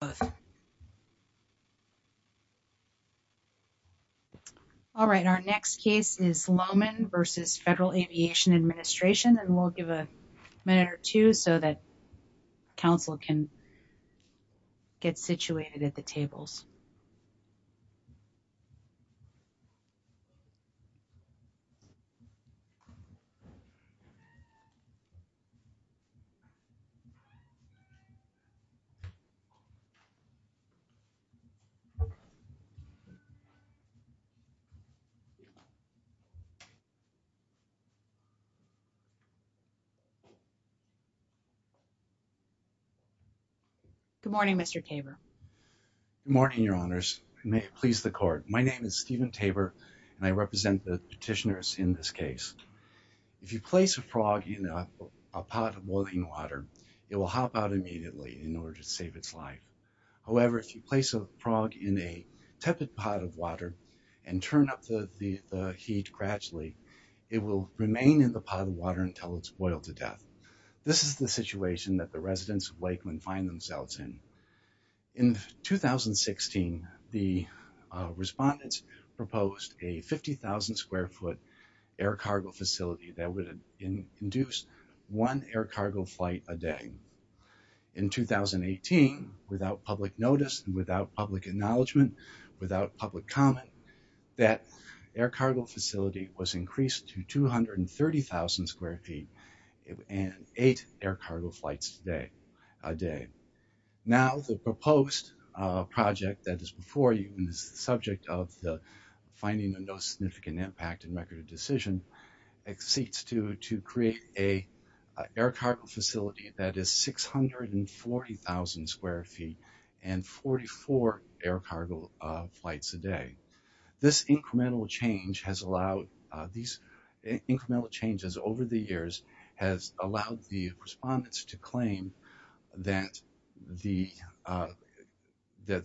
The next case is Lowman v. Federal Aviation Administration Good morning, Mr. Tabor Good morning, Your Honors, and may it please the Court. My name is Stephen Tabor, and I represent the petitioners in this case. If you place a frog in a pot of boiling water, it will hop out immediately in order to save its life. However, if you place a frog in a tepid pot of water and turn up the heat gradually, it will remain in the pot of water until it's boiled to death. This is the situation that the residents of Lakeland find themselves in. In 2016, the respondents proposed a 50,000 square foot air cargo facility that would induce one air cargo flight a day. In 2018, without public notice, without public acknowledgment, without public comment, that air cargo facility was increased to 230,000 square feet and eight air cargo flights a day. Now, the proposed project that is before you and is the subject of the finding of no significant impact and record of decision exceeds to create an air cargo facility that is 640,000 square feet and 44 air cargo flights a day. This incremental change has allowed these incremental changes over the years has allowed the respondents to claim that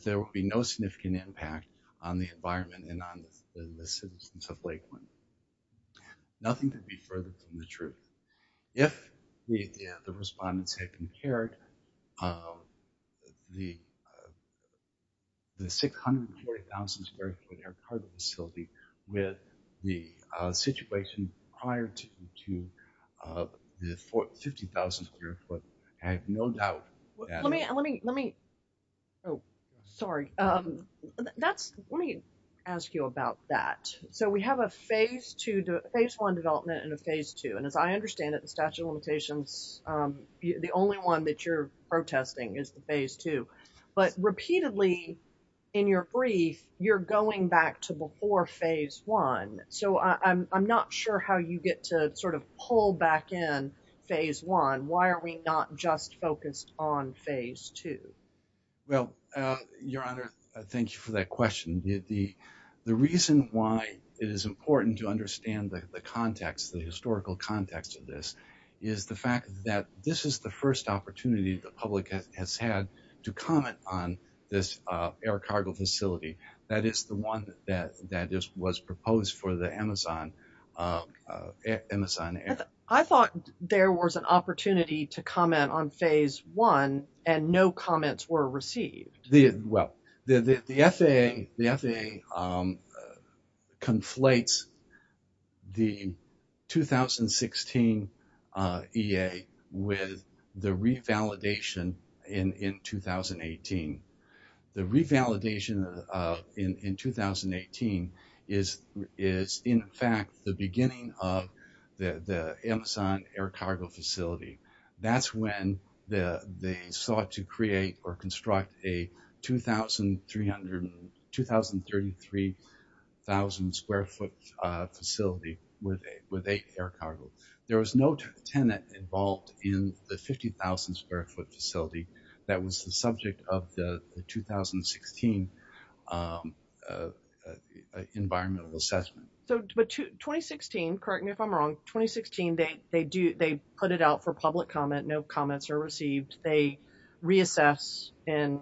there will be no significant impact on the environment and on the citizens of Lakeland. Nothing could be further from the truth. If the respondents had compared the 640,000 square foot air cargo facility with the situation prior to the 50,000 square foot, I have no doubt that... Let me ask you about that. So we have a phase one development and a phase two. And as I understand it, the statute of limitations, the only one that you're protesting is the phase two. But repeatedly in your brief, you're going back to before phase one. So I'm not sure how you get to sort of pull back in phase one. Why are we not just focused on phase two? Well, Your Honor, thank you for that question. The reason why it is important to understand the context, the historical context of this is the fact that this is the first opportunity the public has had to comment on this air cargo facility. That is the one that was proposed for the Amazon Air. I thought there was an opportunity to comment on phase one and no comments were received. Well, the FAA conflates the 2016 EA with the revalidation in 2018. The revalidation in 2018 is, in fact, the beginning of the Amazon Air Cargo Facility. That's when they sought to create or construct a 2,33,000 square foot facility with air cargo. There was no tenant involved in the 50,000 square foot facility that was the subject of the 2016 environmental assessment. But 2016, correct me if I'm wrong, 2016 they put it out for public comment, no comments are received. They reassess in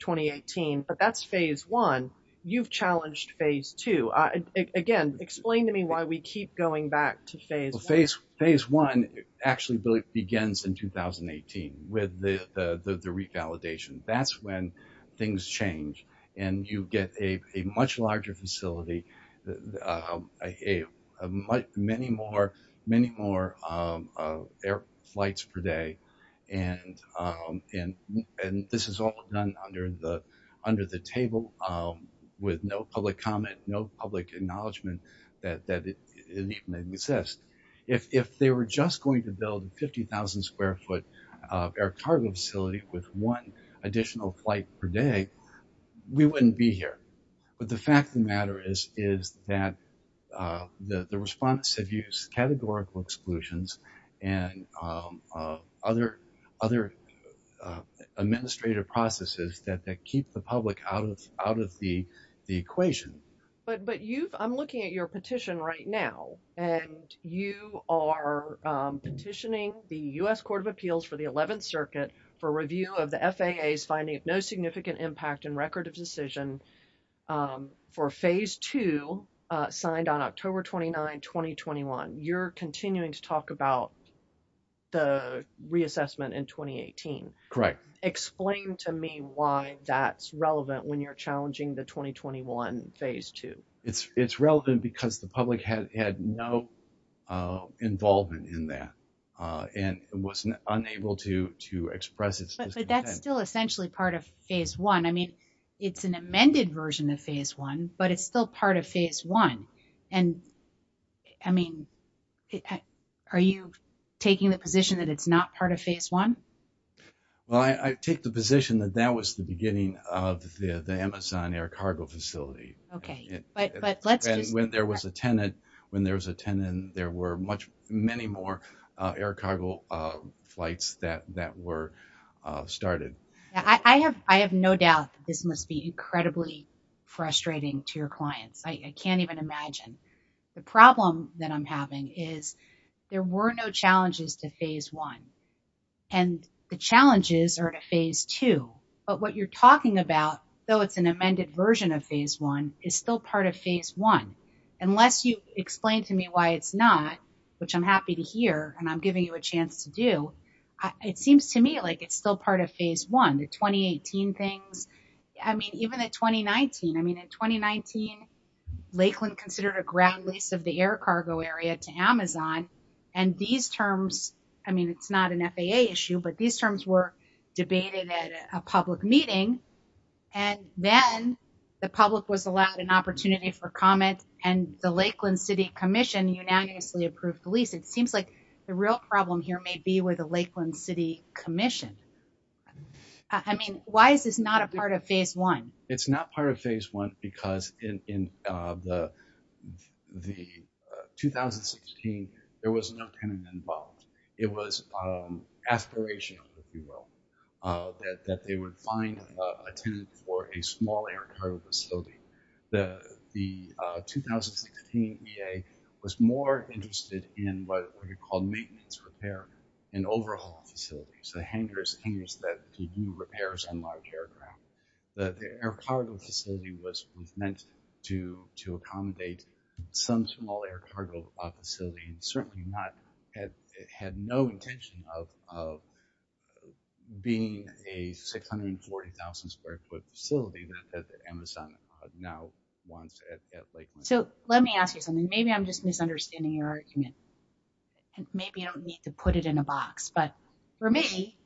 2018, but that's phase one. You've challenged phase two. Phase one actually begins in 2018 with the revalidation. That's when things change and you get a much larger facility, many more air flights per day and this is all done under the table with no public comment, no public acknowledgement that it even exists. If they were just going to build a 50,000 square foot air cargo facility with one additional flight per day, we wouldn't be here. But the fact of the matter is that the respondents have used categorical exclusions and other administrative processes that keep the public out of the equation. But I'm looking at your petition right now and you are petitioning the U.S. Court of Appeals for the 11th Circuit for review of the FAA's finding of no significant impact in record of decision for phase two signed on October 29, 2021. You're continuing to talk about the reassessment in 2018. Correct. Explain to me why that's relevant when you're challenging the 2021 phase two. It's relevant because the public had no involvement in that and was unable to express its discontent. But that's still essentially part of phase one. I mean, it's an amended version of phase one, but it's still part of phase one. And I mean, are you taking the position that it's not part of phase one? Well, I take the position that that was the beginning of the Amazon air cargo facility. Okay. But let's just... And when there was a tenant, when there was a tenant, there were many more air cargo flights that were started. I have no doubt that this must be incredibly frustrating to your clients. I can't even imagine. The problem that I'm having is there were no challenges to phase one and the challenges are to phase two. But what you're talking about, though it's an amended version of phase one, is still part of phase one. Unless you explain to me why it's not, which I'm happy to hear and I'm giving you a chance to do, it seems to me like it's still part of phase one, the 2018 things. I mean, even at 2019, I mean, in 2019, Lakeland considered a ground lease of the air cargo area to Amazon. And these terms, I mean, it's not an FAA issue, but these terms were debated at a public meeting. And then the public was allowed an opportunity for comment and the Lakeland City Commission unanimously approved the lease. It seems like the real problem here may be with the Lakeland City Commission. I mean, why is this not a part of phase one? It's not part of phase one because in the 2016, there was no tenant involved. It was aspirational, if you will, that they would find a tenant for a small air cargo facility. The 2016 EA was more interested in what we call maintenance repair and overhaul facilities, the hangers that do repairs on large aircraft. The air cargo facility was meant to accommodate some small air cargo facility and certainly not had no intention of being a 640,000 square foot facility that Amazon now wants at Lakeland. So let me ask you something. Maybe I'm just misunderstanding your argument. Maybe I don't need to put it in a box, but for me,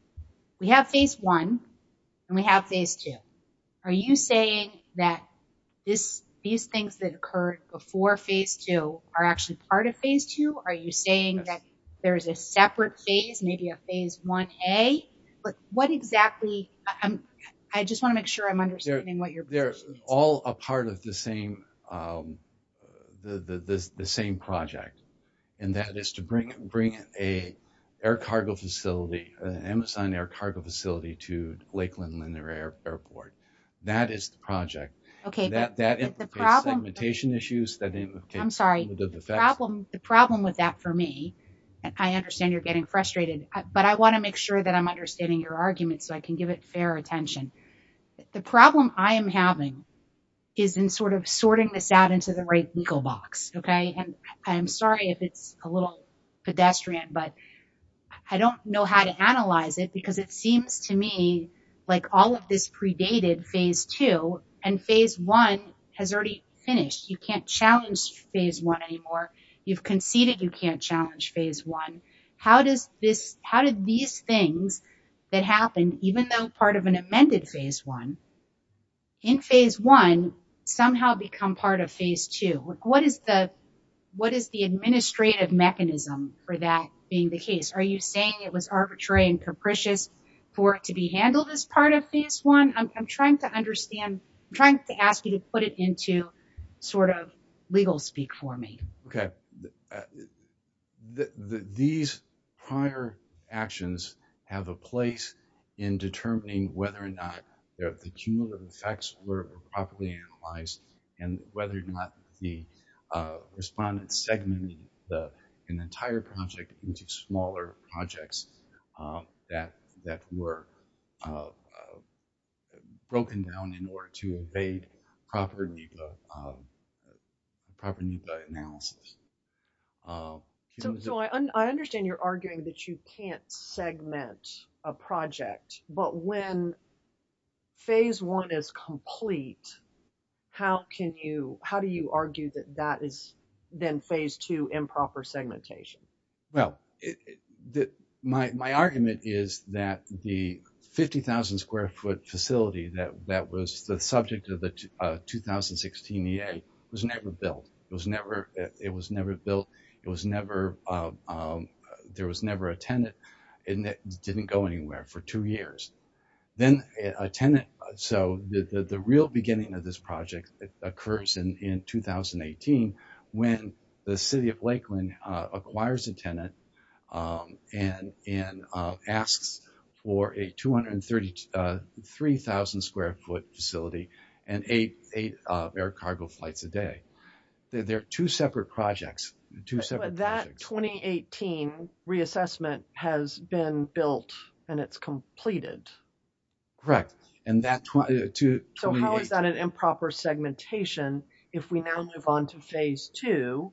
we have phase one and we have phase two. Are you saying that these things that occurred before phase two are actually part of phase two? Are you saying that there's a separate phase, maybe a phase 1A? But what exactly? I just want to make sure I'm understanding what you're- They're all a part of the same project, and that is to bring an Amazon air cargo facility to Lakeland Linear Airport. That is the project. That implicates segmentation issues, that implicates- I'm sorry. The problem with that for me, and I understand you're getting frustrated, but I want to make sure that I'm understanding your argument so I can give it fair attention. The problem I am having is in sort of sorting this out into the right legal box, okay? And I'm sorry if it's a little pedestrian, but I don't know how to analyze it because it seems to me like all of this predated phase two and phase one has already finished. You can't challenge phase one anymore. You've conceded you can't challenge phase one. How did these things that happen, even though part of an amended phase one, in phase one somehow become part of phase two? What is the administrative mechanism for that being the case? Are you saying it was arbitrary and capricious for it to be handled as part of phase one? I'm trying to understand. I'm trying to ask you to put it into sort of legal speak for me. Okay. So, these prior actions have a place in determining whether or not the cumulative effects were properly analyzed and whether or not the respondents segmented an entire project into smaller projects that were broken down in order to evade proper NEPA analysis. So, I understand you're arguing that you can't segment a project, but when phase one is complete, how can you, how do you argue that that is then phase two improper segmentation? Well, my argument is that the 50,000 square foot facility that was the subject of the 2016 EA was never built. It was never built. It was never, there was never a tenant and it didn't go anywhere for two years. Then a tenant, so the real beginning of this project occurs in 2018 when the city of Lakeland acquires a tenant and asks for a 233,000 square foot facility and eight air cargo flights a day. They're two separate projects, two separate projects. But that 2018 reassessment has been built and it's completed. Correct. And that 2018. So, how is that an improper segmentation if we now move on to phase two?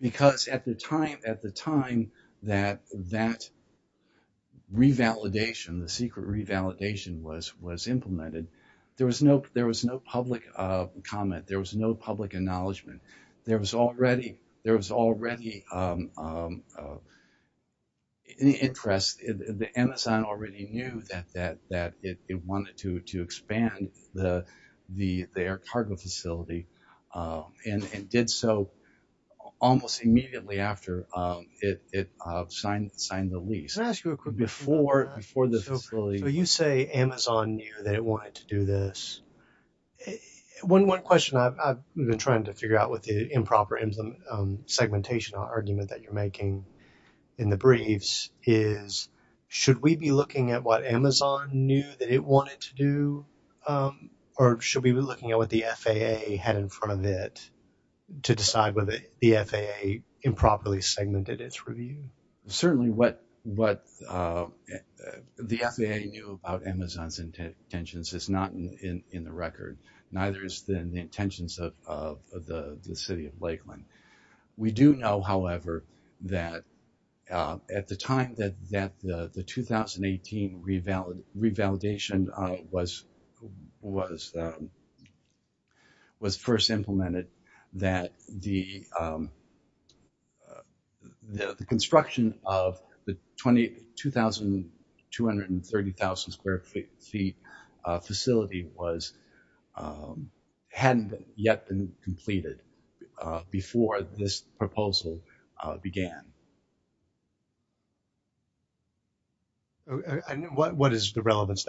Because at the time that that revalidation, the secret revalidation was implemented, there was no public comment. There was no public acknowledgement. There was already an interest, Amazon already knew that it wanted to expand their cargo facility and did so almost immediately after it signed the lease. Can I ask you a quick question? Before the facility. So, you say Amazon knew that it wanted to do this. One question I've been trying to figure out with the improper segmentation argument that you're making in the briefs is, should we be looking at what Amazon knew that it wanted to do or should we be looking at what the FAA had in front of it to decide whether the FAA improperly segmented its review? Certainly what the FAA knew about Amazon's intentions is not in the record. Neither is the intentions of the City of Lakeland. We do know, however, that at the time that the 2018 revalidation was first implemented, that the construction of the 22,230,000 square feet facility hadn't yet been completed before this proposal began. What is the relevance?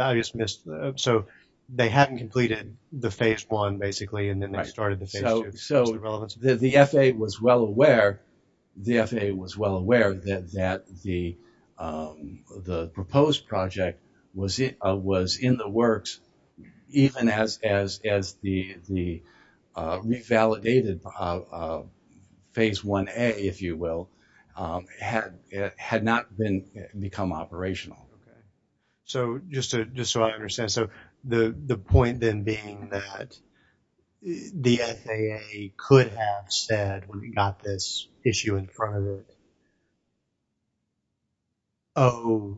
So, they hadn't completed the Phase 1, basically, and then they started the Phase 2. So, the FAA was well aware that the proposed project was in the works, even as the revalidated Phase 1a, if you will, had not become operational. Okay. So, just so I understand, the point then being that the FAA could have said when we got this issue in front of it, oh,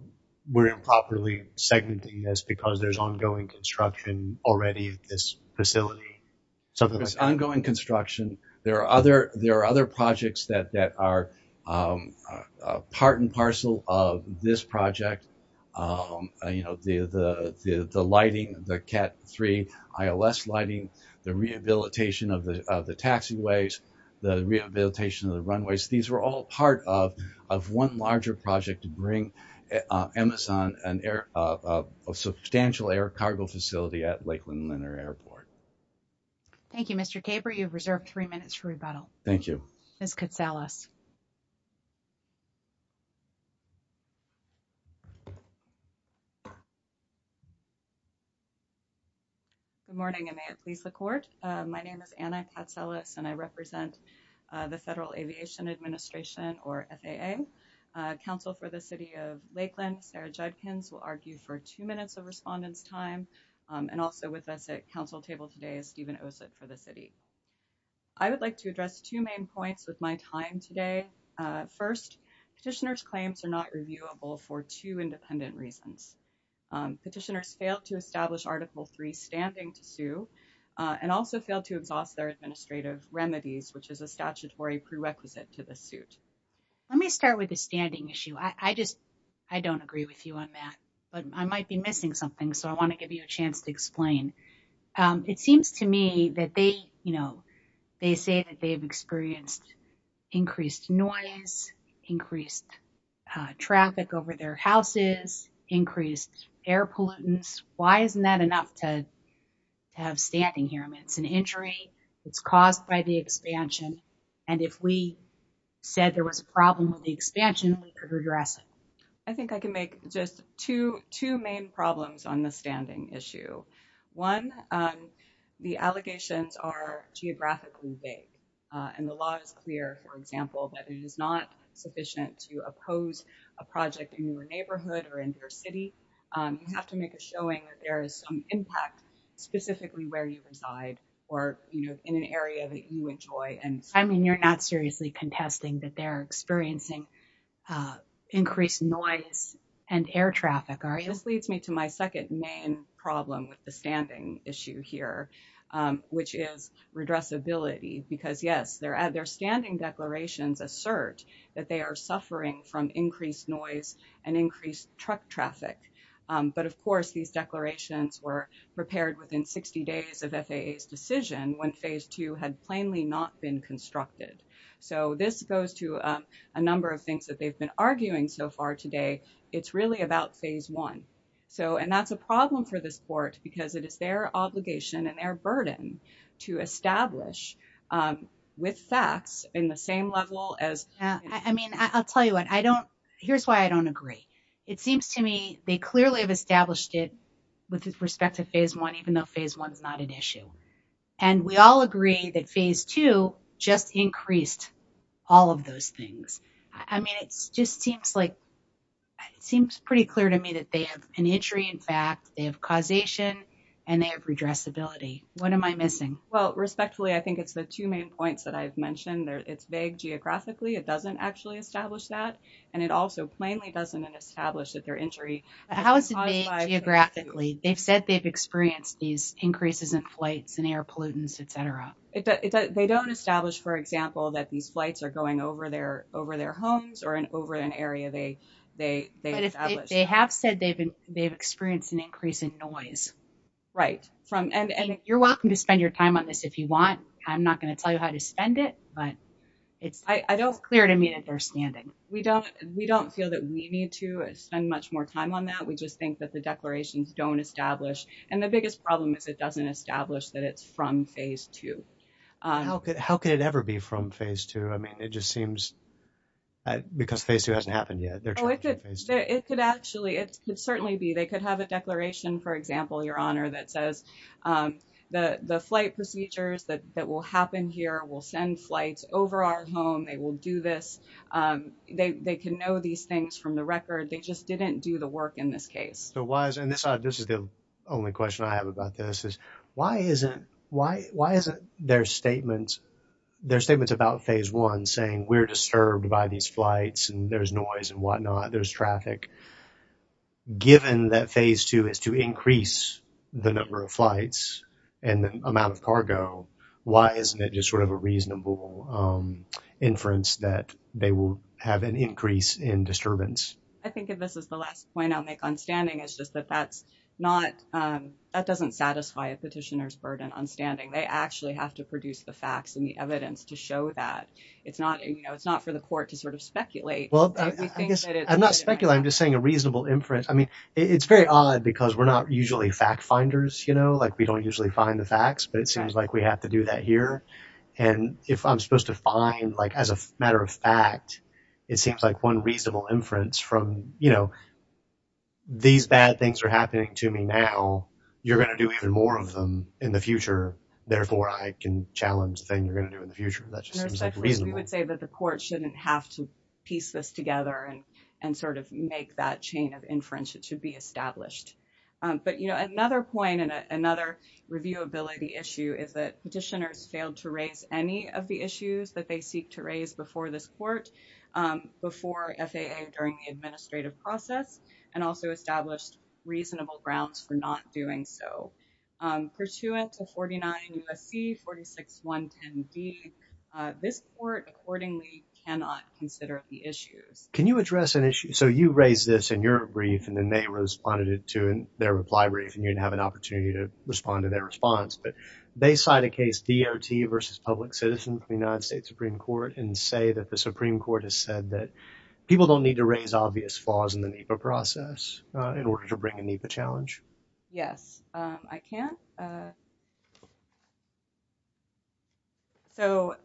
we're improperly segmenting this because there's ongoing construction already at this facility, something like that? There's ongoing construction. There are other projects that are part and parcel of this project, the lighting, the CAT-3 ILS lighting, the rehabilitation of the taxiways, the rehabilitation of the runways. These were all part of one larger project to bring Amazon a substantial air cargo facility at Lakeland Lunar Airport. Thank you, Mr. Caber. I'm sure you've reserved three minutes for rebuttal. Thank you. Ms. Katsalas. Good morning, and may it please the Court. My name is Anna Katsalas, and I represent the Federal Aviation Administration, or FAA. Counsel for the City of Lakeland, Sarah Judkins, will argue for two minutes of respondent's time, and also with us at council table today is Stephen Ossett for the City. I would like to address two main points with my time today. First, petitioner's claims are not reviewable for two independent reasons. Petitioners failed to establish Article III standing to sue, and also failed to exhaust their administrative remedies, which is a statutory prerequisite to the suit. Let me start with the standing issue. I just, I don't agree with you on that, but I might be missing something, so I want to give you a chance to explain. It seems to me that they, you know, they say that they've experienced increased noise, increased traffic over their houses, increased air pollutants. Why isn't that enough to have standing here? I mean, it's an injury, it's caused by the expansion, and if we said there was a problem with the expansion, we could redress it. I think I can make just two main problems on the standing issue. One, the allegations are geographically vague, and the law is clear, for example, that it is not sufficient to oppose a project in your neighborhood or in your city. You have to make a showing that there is some impact specifically where you reside, or, you know, in an area that you enjoy. I mean, you're not seriously contesting that they're experiencing increased noise and air traffic, are you? This leads me to my second main problem with the standing issue here, which is redressability. Because yes, their standing declarations assert that they are suffering from increased noise and increased truck traffic. But of course, these declarations were prepared within 60 days of FAA's decision when phase two had plainly not been constructed. So this goes to a number of things that they've been arguing so far today. It's really about phase one. So and that's a problem for this court, because it is their obligation and their burden to establish with facts in the same level as... I mean, I'll tell you what, I don't... Here's why I don't agree. It seems to me they clearly have established it with respect to phase one, even though phase one is not an issue. And we all agree that phase two just increased all of those things. I mean, it just seems pretty clear to me that they have an injury in fact, they have causation, and they have redressability. What am I missing? Well, respectfully, I think it's the two main points that I've mentioned. It's vague geographically, it doesn't actually establish that. And it also plainly doesn't establish that their injury... How is it vague geographically? They've said they've experienced these increases in flights and air pollutants, et cetera. They don't establish, for example, that these flights are going over their homes or over an area they established. They have said they've experienced an increase in noise. Right. And you're welcome to spend your time on this if you want. I'm not going to tell you how to spend it, but it's clear to me that they're standing. We don't feel that we need to spend much more time on that. We just think that the declarations don't establish. And the biggest problem is it doesn't establish that it's from phase two. How could it ever be from phase two? I mean, it just seems... Because phase two hasn't happened yet. It could actually... It could certainly be. They could have a declaration, for example, Your Honor, that says the flight procedures that will happen here will send flights over our home, they will do this. They can know these things from the record. They just didn't do the work in this case. So why is it... And this is the only question I have about this is, why isn't their statements about phase one saying, we're disturbed by these flights and there's noise and whatnot, there's traffic, given that phase two is to increase the number of flights and the amount of cargo, why isn't it just sort of a reasonable inference that they will have an increase in disturbance? I think if this is the last point I'll make on standing, it's just that that's not... That doesn't satisfy a petitioner's burden on standing. They actually have to produce the facts and the evidence to show that. It's not for the court to sort of speculate. Well, I guess I'm not speculating, I'm just saying a reasonable inference. I mean, it's very odd because we're not usually fact finders, you know, like we don't usually find the facts, but it seems like we have to do that here. And if I'm supposed to find, like, as a matter of fact, it seems like one reasonable inference from these bad things are happening to me now, you're going to do even more of them in the future. Therefore, I can challenge the thing you're going to do in the future. That just seems like reasonable. We would say that the court shouldn't have to piece this together and sort of make that chain of inference. It should be established. But, you know, another point and another reviewability issue is that petitioners failed to raise any of the issues that they seek to raise before this court, before FAA during the administrative process, and also established reasonable grounds for not doing so. Pursuant to 49 U.S.C. 46110D, this court accordingly cannot consider the issues. Can you address an issue? So you raised this in your brief, and then they responded to it in their reply brief, and you didn't have an opportunity to respond to their response, but they cite a case, D.R.T. versus Public Citizen, from the United States Supreme Court, and say that the Supreme Court has said that people don't need to raise obvious flaws in the NEPA process in order to bring a NEPA challenge. Yes. I can. So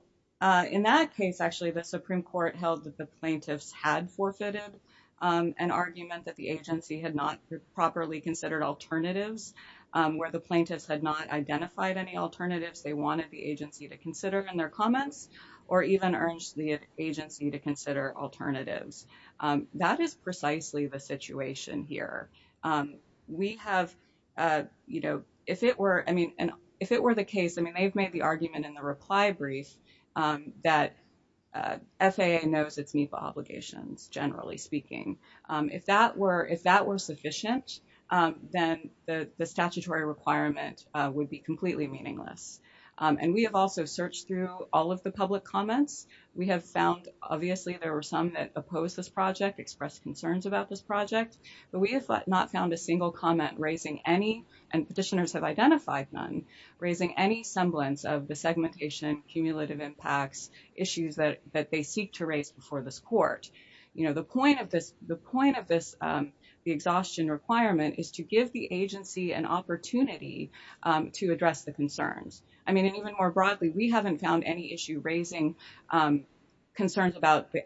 in that case, actually, the Supreme Court held that the plaintiffs had forfeited an argument that the agency had not properly considered alternatives, where the plaintiffs had not identified any alternatives they wanted the agency to consider in their comments, or even urged the agency to consider alternatives. That is precisely the situation here. We have, you know, if it were, I mean, if it were the case, I mean, they've made the argument in the reply brief that FAA knows its NEPA obligations, generally speaking. If that were sufficient, then the statutory requirement would be completely meaningless. And we have also searched through all of the public comments. We have found, obviously, there were some that opposed this project, expressed concerns about this project, but we have not found a single comment raising any, and petitioners have identified none, raising any semblance of the segmentation, cumulative impacts, issues that they seek to raise before this court. You know, the point of this, the point of this, the exhaustion requirement is to give the agency an opportunity to address the concerns. I mean, and even more broadly, we haven't found any issue raising concerns about the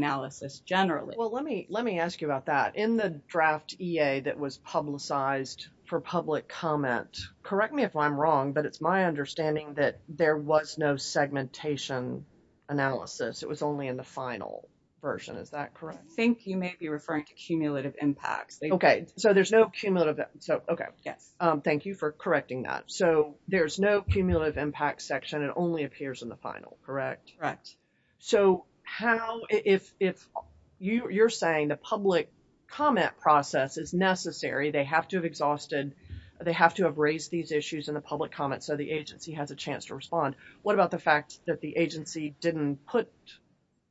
process, generally. Well, let me, let me ask you about that. In the draft EA that was publicized for public comment, correct me if I'm wrong, but it's my understanding that there was no segmentation analysis. It was only in the final version. Is that correct? I think you may be referring to cumulative impacts. Okay. So there's no cumulative. So, okay. Yes. Thank you for correcting that. So there's no cumulative impact section, it only appears in the final, correct? Correct. So how, if you're saying the public comment process is necessary, they have to have exhausted, they have to have raised these issues in the public comment so the agency has a chance to respond. What about the fact that the agency didn't put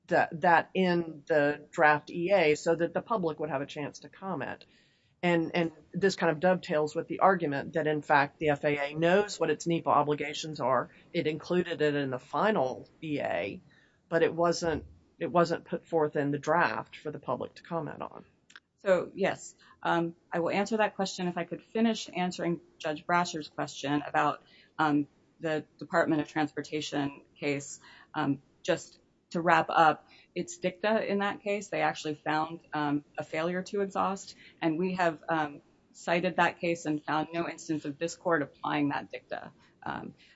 that in the draft EA so that the public would have a chance to comment? And this kind of dovetails with the argument that, in fact, the FAA knows what its NEPA obligations are. It included it in the final EA, but it wasn't put forth in the draft for the public to comment on. So, yes, I will answer that question if I could finish answering Judge Brasher's question about the Department of Transportation case. Just to wrap up, it's dicta in that case, they actually found a failure to exhaust. And we have cited that case and found no instance of this court applying that dicta.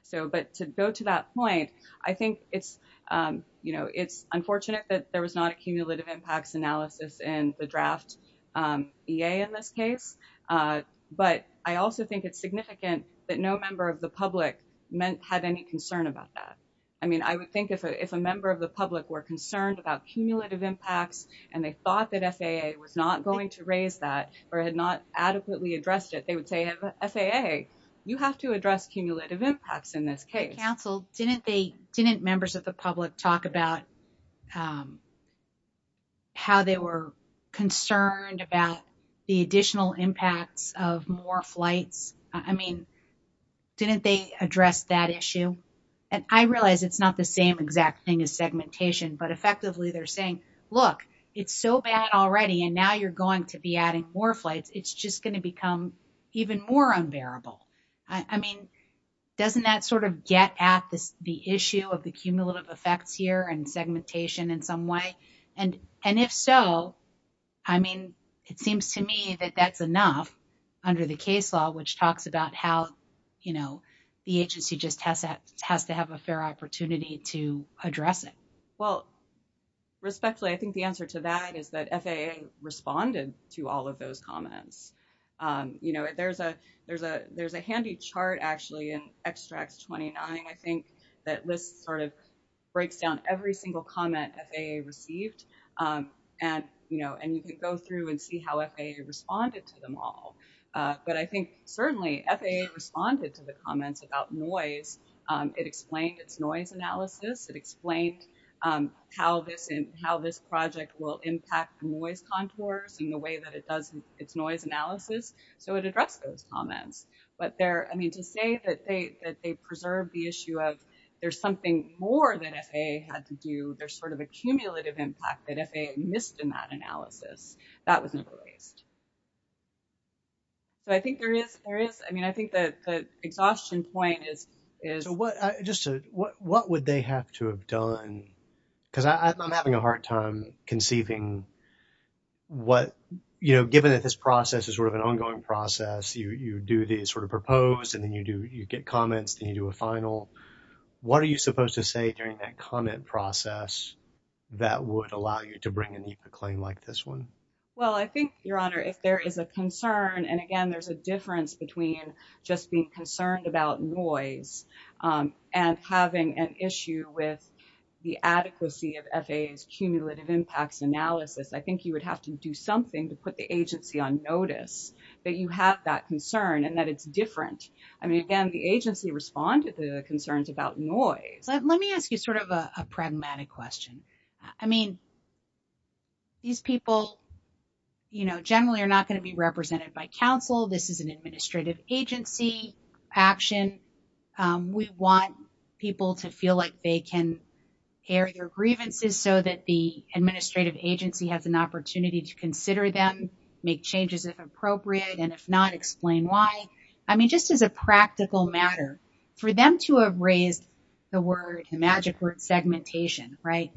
So, but to go to that point, I think it's, you know, it's unfortunate that there was not a cumulative impacts analysis in the draft EA in this case. But I also think it's significant that no member of the public had any concern about that. I mean, I would think if a member of the public were concerned about cumulative impacts and they thought that FAA was not going to raise that or had not adequately addressed it, they would say, FAA, you have to address cumulative impacts in this case. Counsel, didn't they, didn't members of the public talk about how they were concerned about the additional impacts of more flights? I mean, didn't they address that issue? And I realize it's not the same exact thing as segmentation, but effectively they're saying, look, it's so bad already and now you're going to be adding more flights. It's just going to become even more unbearable. I mean, doesn't that sort of get at the issue of the cumulative effects here and segmentation in some way? And if so, I mean, it seems to me that that's enough under the case law, which talks about how, you know, the agency just has to have a fair opportunity to address it. Well, respectfully, I think the answer to that is that FAA responded to all of those comments. You know, there's a handy chart, actually, in extracts 29, I think, that lists sort of breaks down every single comment FAA received. And, you know, and you can go through and see how FAA responded to them all. But I think certainly FAA responded to the comments about noise. It explained its noise analysis. It explained how this project will impact noise contours and the way that it does its noise analysis. So it addressed those comments. But there, I mean, to say that they preserved the issue of there's something more that FAA had to do, there's sort of a cumulative impact that FAA missed in that analysis. That was never raised. So I think there is, I mean, I think that the exhaustion point is. Just what would they have to have done? Because I'm having a hard time conceiving what, you know, given that this process is sort of an ongoing process, you do these sort of proposed and then you do, you get comments, then you do a final. What are you supposed to say during that comment process that would allow you to bring in a claim like this one? Well, I think, Your Honor, if there is a concern, and again, there's a difference between just being concerned about noise and having an issue with the adequacy of FAA's cumulative impacts analysis. I think you would have to do something to put the agency on notice that you have that concern and that it's different. I mean, again, the agency responded to the concerns about noise. Let me ask you sort of a pragmatic question. I mean, these people, you know, generally are not going to be represented by counsel. This is an administrative agency action. We want people to feel like they can air their grievances so that the administrative agency has an opportunity to consider them, make changes if appropriate, and if not, explain why. I mean, just as a practical matter, for them to have raised the word, the magic word, segmentation, right,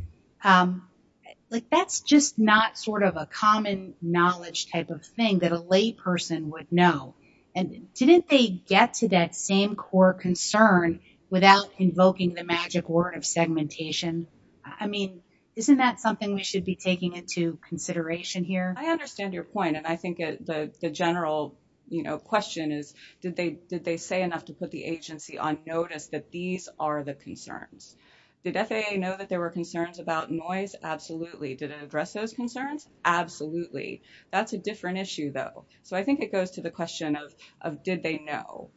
like that's just not sort of a common knowledge type of thing that a lay person would know. And didn't they get to that same core concern without invoking the magic word of segmentation? I mean, isn't that something we should be taking into consideration here? I understand your point. And I think the general, you know, question is, did they say enough to put the agency on notice that these are the concerns? Did FAA know that there were concerns about noise? Absolutely. Did it address those concerns? Absolutely. That's a different issue, though. So I think it goes to the question of, did they know?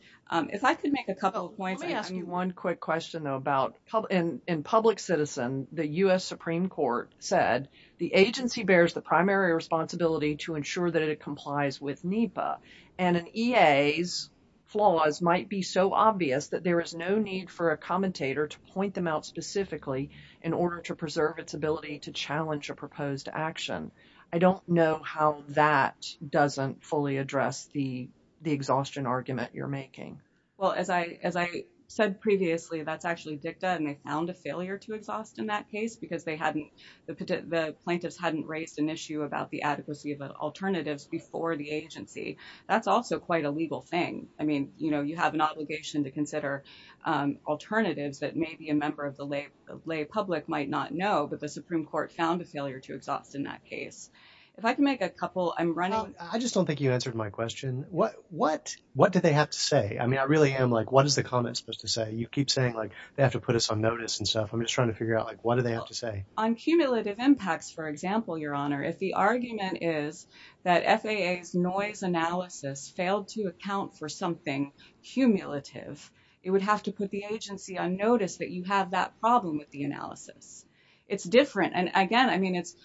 If I could make a couple of points. Let me ask you one quick question, though, about in public citizen, the U.S. Supreme Court said the agency bears the primary responsibility to ensure that it complies with NEPA. And an EA's flaws might be so obvious that there is no need for a commentator to point them out specifically in order to preserve its ability to challenge a proposed action. I don't know how that doesn't fully address the exhaustion argument you're making. Well, as I said previously, that's actually dicta, and they found a failure to exhaust in that case because the plaintiffs hadn't raised an issue about the adequacy of alternatives before the agency. That's also quite a legal thing. I mean, you know, you have an obligation to consider alternatives that maybe a member of the lay lay public might not know, but the Supreme Court found a failure to exhaust in that case. If I can make a couple, I'm running. I just don't think you answered my question. What what what do they have to say? I mean, I really am like, what is the comment supposed to say? You keep saying, like, they have to put us on notice and stuff. I'm just trying to figure out, like, what do they have to say? On cumulative impacts, for example, Your Honor, if the argument is that FAA's noise analysis failed to account for something cumulative, it would have to put the agency on notice that you have that problem with the analysis. It's different. And again, I mean, it's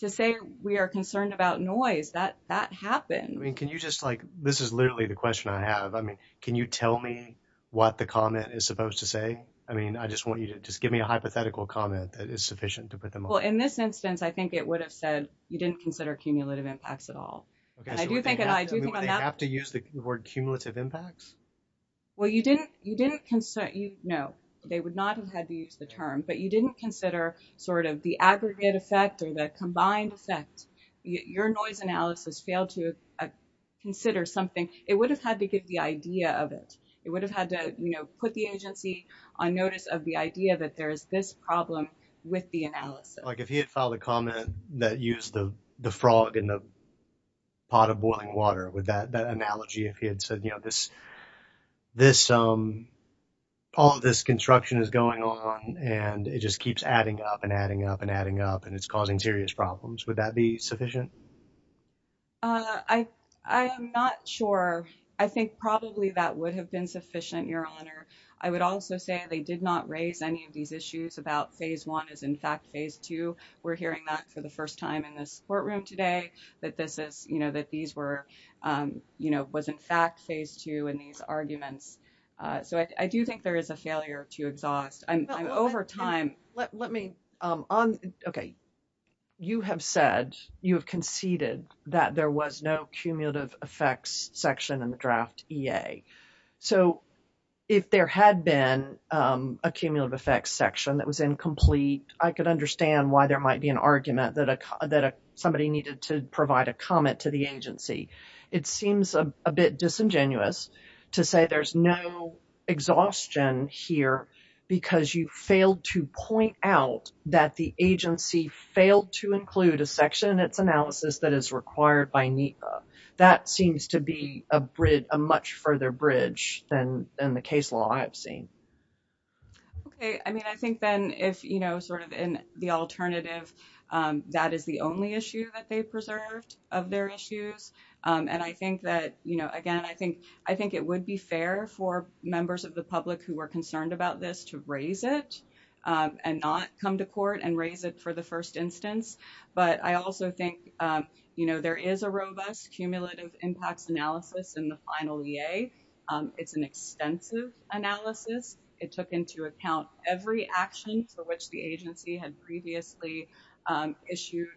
to say we are concerned about noise that that happened. I mean, can you just like this is literally the question I have. I mean, can you tell me what the comment is supposed to say? I mean, I just want you to just give me a hypothetical comment that is sufficient to put them. Well, in this instance, I think it would have said you didn't consider cumulative impacts at all. And I do think that I do have to use the word cumulative impacts. Well, you didn't you didn't. No, they would not have had to use the term, but you didn't consider sort of the aggregate effect or the combined effect. Your noise analysis failed to consider something. It would have had to give the idea of it. It would have had to put the agency on notice of the idea that there is this problem with the analysis. Like if he had filed a comment that used the frog in the pot of boiling water with that this all of this construction is going on and it just keeps adding up and adding up and adding up and it's causing serious problems. Would that be sufficient? Uh, I, I am not sure. I think probably that would have been sufficient. Your Honor. I would also say they did not raise any of these issues about phase one is in fact, phase two. We're hearing that for the first time in this courtroom today that this is, you know, that these were, um, you know, was in fact phase two and these arguments. So I do think there is a failure to exhaust. I'm, I'm over time. Let me, um, on, okay. You have said you have conceded that there was no cumulative effects section in the draft EA. So if there had been, um, a cumulative effects section that was incomplete, I could understand why there might be an argument that a, that somebody needed to provide a comment to the agency. It seems a bit disingenuous to say there's no exhaustion here because you failed to point out that the agency failed to include a section in its analysis that is required by NEPA. That seems to be a bridge, a much further bridge than, than the case law I've seen. Okay. I mean, I think then if, you know, sort of in the alternative, um, that is the only issue that they preserved of their issues. Um, and I think that, you know, again, I think, I think it would be fair for members of the public who were concerned about this to raise it, um, and not come to court and raise it for the first instance. But I also think, um, you know, there is a robust cumulative impacts analysis in the final EA. Um, it's an extensive analysis. It took into account every action for which the agency had previously, um, issued,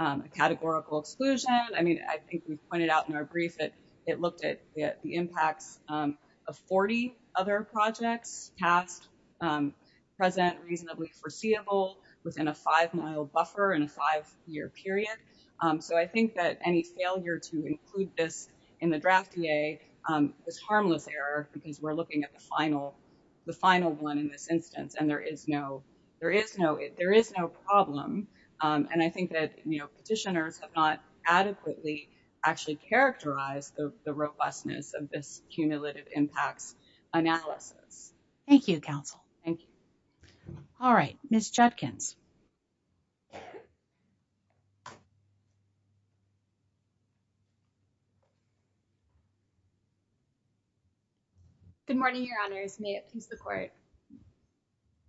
um, a categorical exclusion. I mean, I think we pointed out in our brief that it looked at the impacts, um, of 40 other projects past, um, present reasonably foreseeable within a five mile buffer and a five year period. Um, so I think that any failure to include this in the draft EA, um, was harmless error because we're looking at the final, the final one in this instance, and there is no, there is no, there is no problem. Um, and I think that, you know, petitioners have not adequately actually characterized the, the robustness of this cumulative impacts analysis. Thank you, counsel. Thank you. All right, Ms. Judkins. Good morning, Your Honors. May it please the court.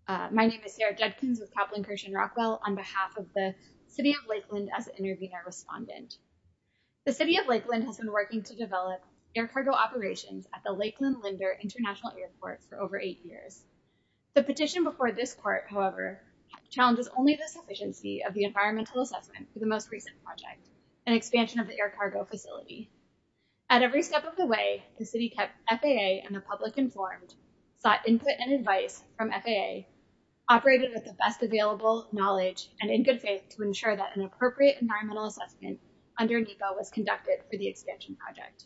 My name is Sarah Judkins with Kaplan Kirsch and Rockwell on behalf of the City of Lakeland as an intervenor respondent. The City of Lakeland has been working to develop air cargo operations at the Lakeland Linder International Airport for over eight years. The petition before this court, however, challenges only the sufficiency of the environmental assessment for the most recent project, an expansion of the air cargo facility. At every step of the way, the City kept FAA and the public informed, sought input and advice from FAA, operated with the best available knowledge and in good faith to ensure that an appropriate environmental assessment under NEPA was conducted for the expansion project.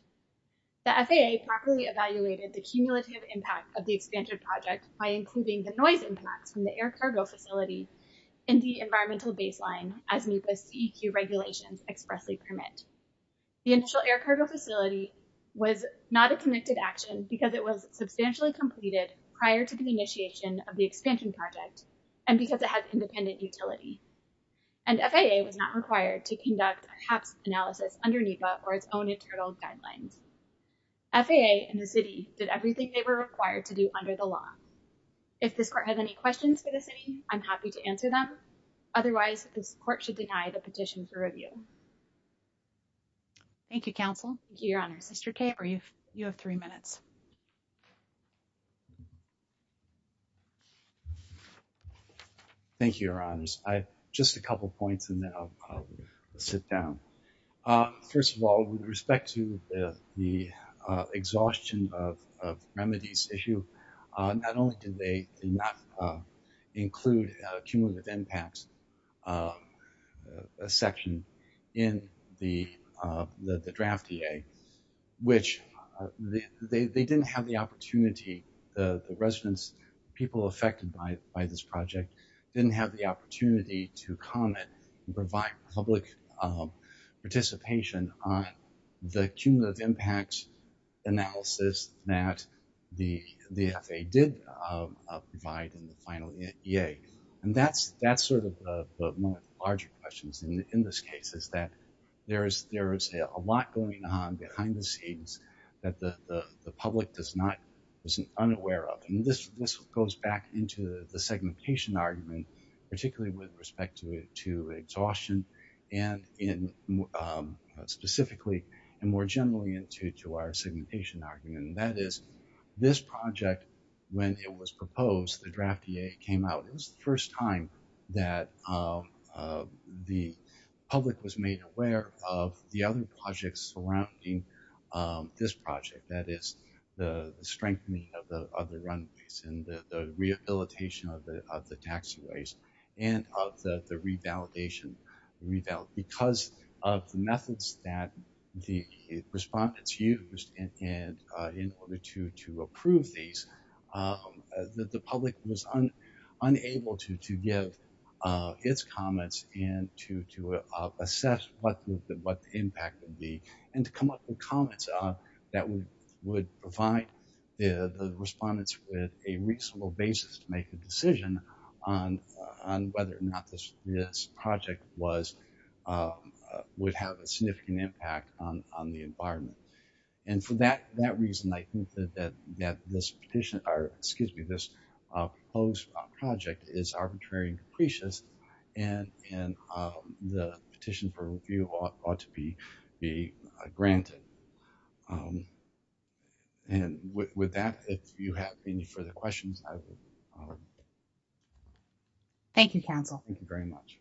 The FAA properly evaluated the cumulative impact of the expanded project by including the noise impacts from the air cargo facility in the environmental baseline as NEPA CEQ regulations expressly permit. The initial air cargo facility was not a committed action because it was substantially completed prior to the initiation of the expansion project and because it has independent utility. And FAA was not required to conduct a HAPS analysis under NEPA or its own internal guidelines. FAA and the City did everything they were required to do under the law. If this court has any questions for the City, I'm happy to answer them. Otherwise, this court should deny the petition for review. Thank you, Counsel. Thank you, Your Honors. Mr. Caper, you have three minutes. Thank you, Your Honors. I have just a couple of points and then I'll sit down. First of all, with respect to the exhaustion of remedies issue, not only did they not include cumulative impacts section in the draft EA, which they didn't have the opportunity, the residents, people affected by this project didn't have the opportunity to comment and provide public participation on the cumulative impacts analysis that the FAA did provide in the final EA. And that's sort of one of the larger questions in this case is that there is a lot going on behind the scenes that the public is not unaware of. And this goes back into the segmentation argument, particularly with respect to exhaustion specifically and more generally into our segmentation argument. That is, this project, when it was proposed, the draft EA came out. It was the first time that the public was made aware of the other projects surrounding this project. That is, the strengthening of the runways and the rehabilitation of the taxiways and of the revalidation. Because of the methods that the respondents used in order to approve these, the public was unable to give its comments and to assess what the impact would be and to come up with comments that would provide the respondents with a reasonable basis to make a decision on whether or not this project would have a significant impact on the environment. And for that reason, I think that this petition, or excuse me, this proposed project is arbitrary and capricious and the petition for review ought to be granted. And with that, if you have any further questions. Thank you, Council. Thank you very much.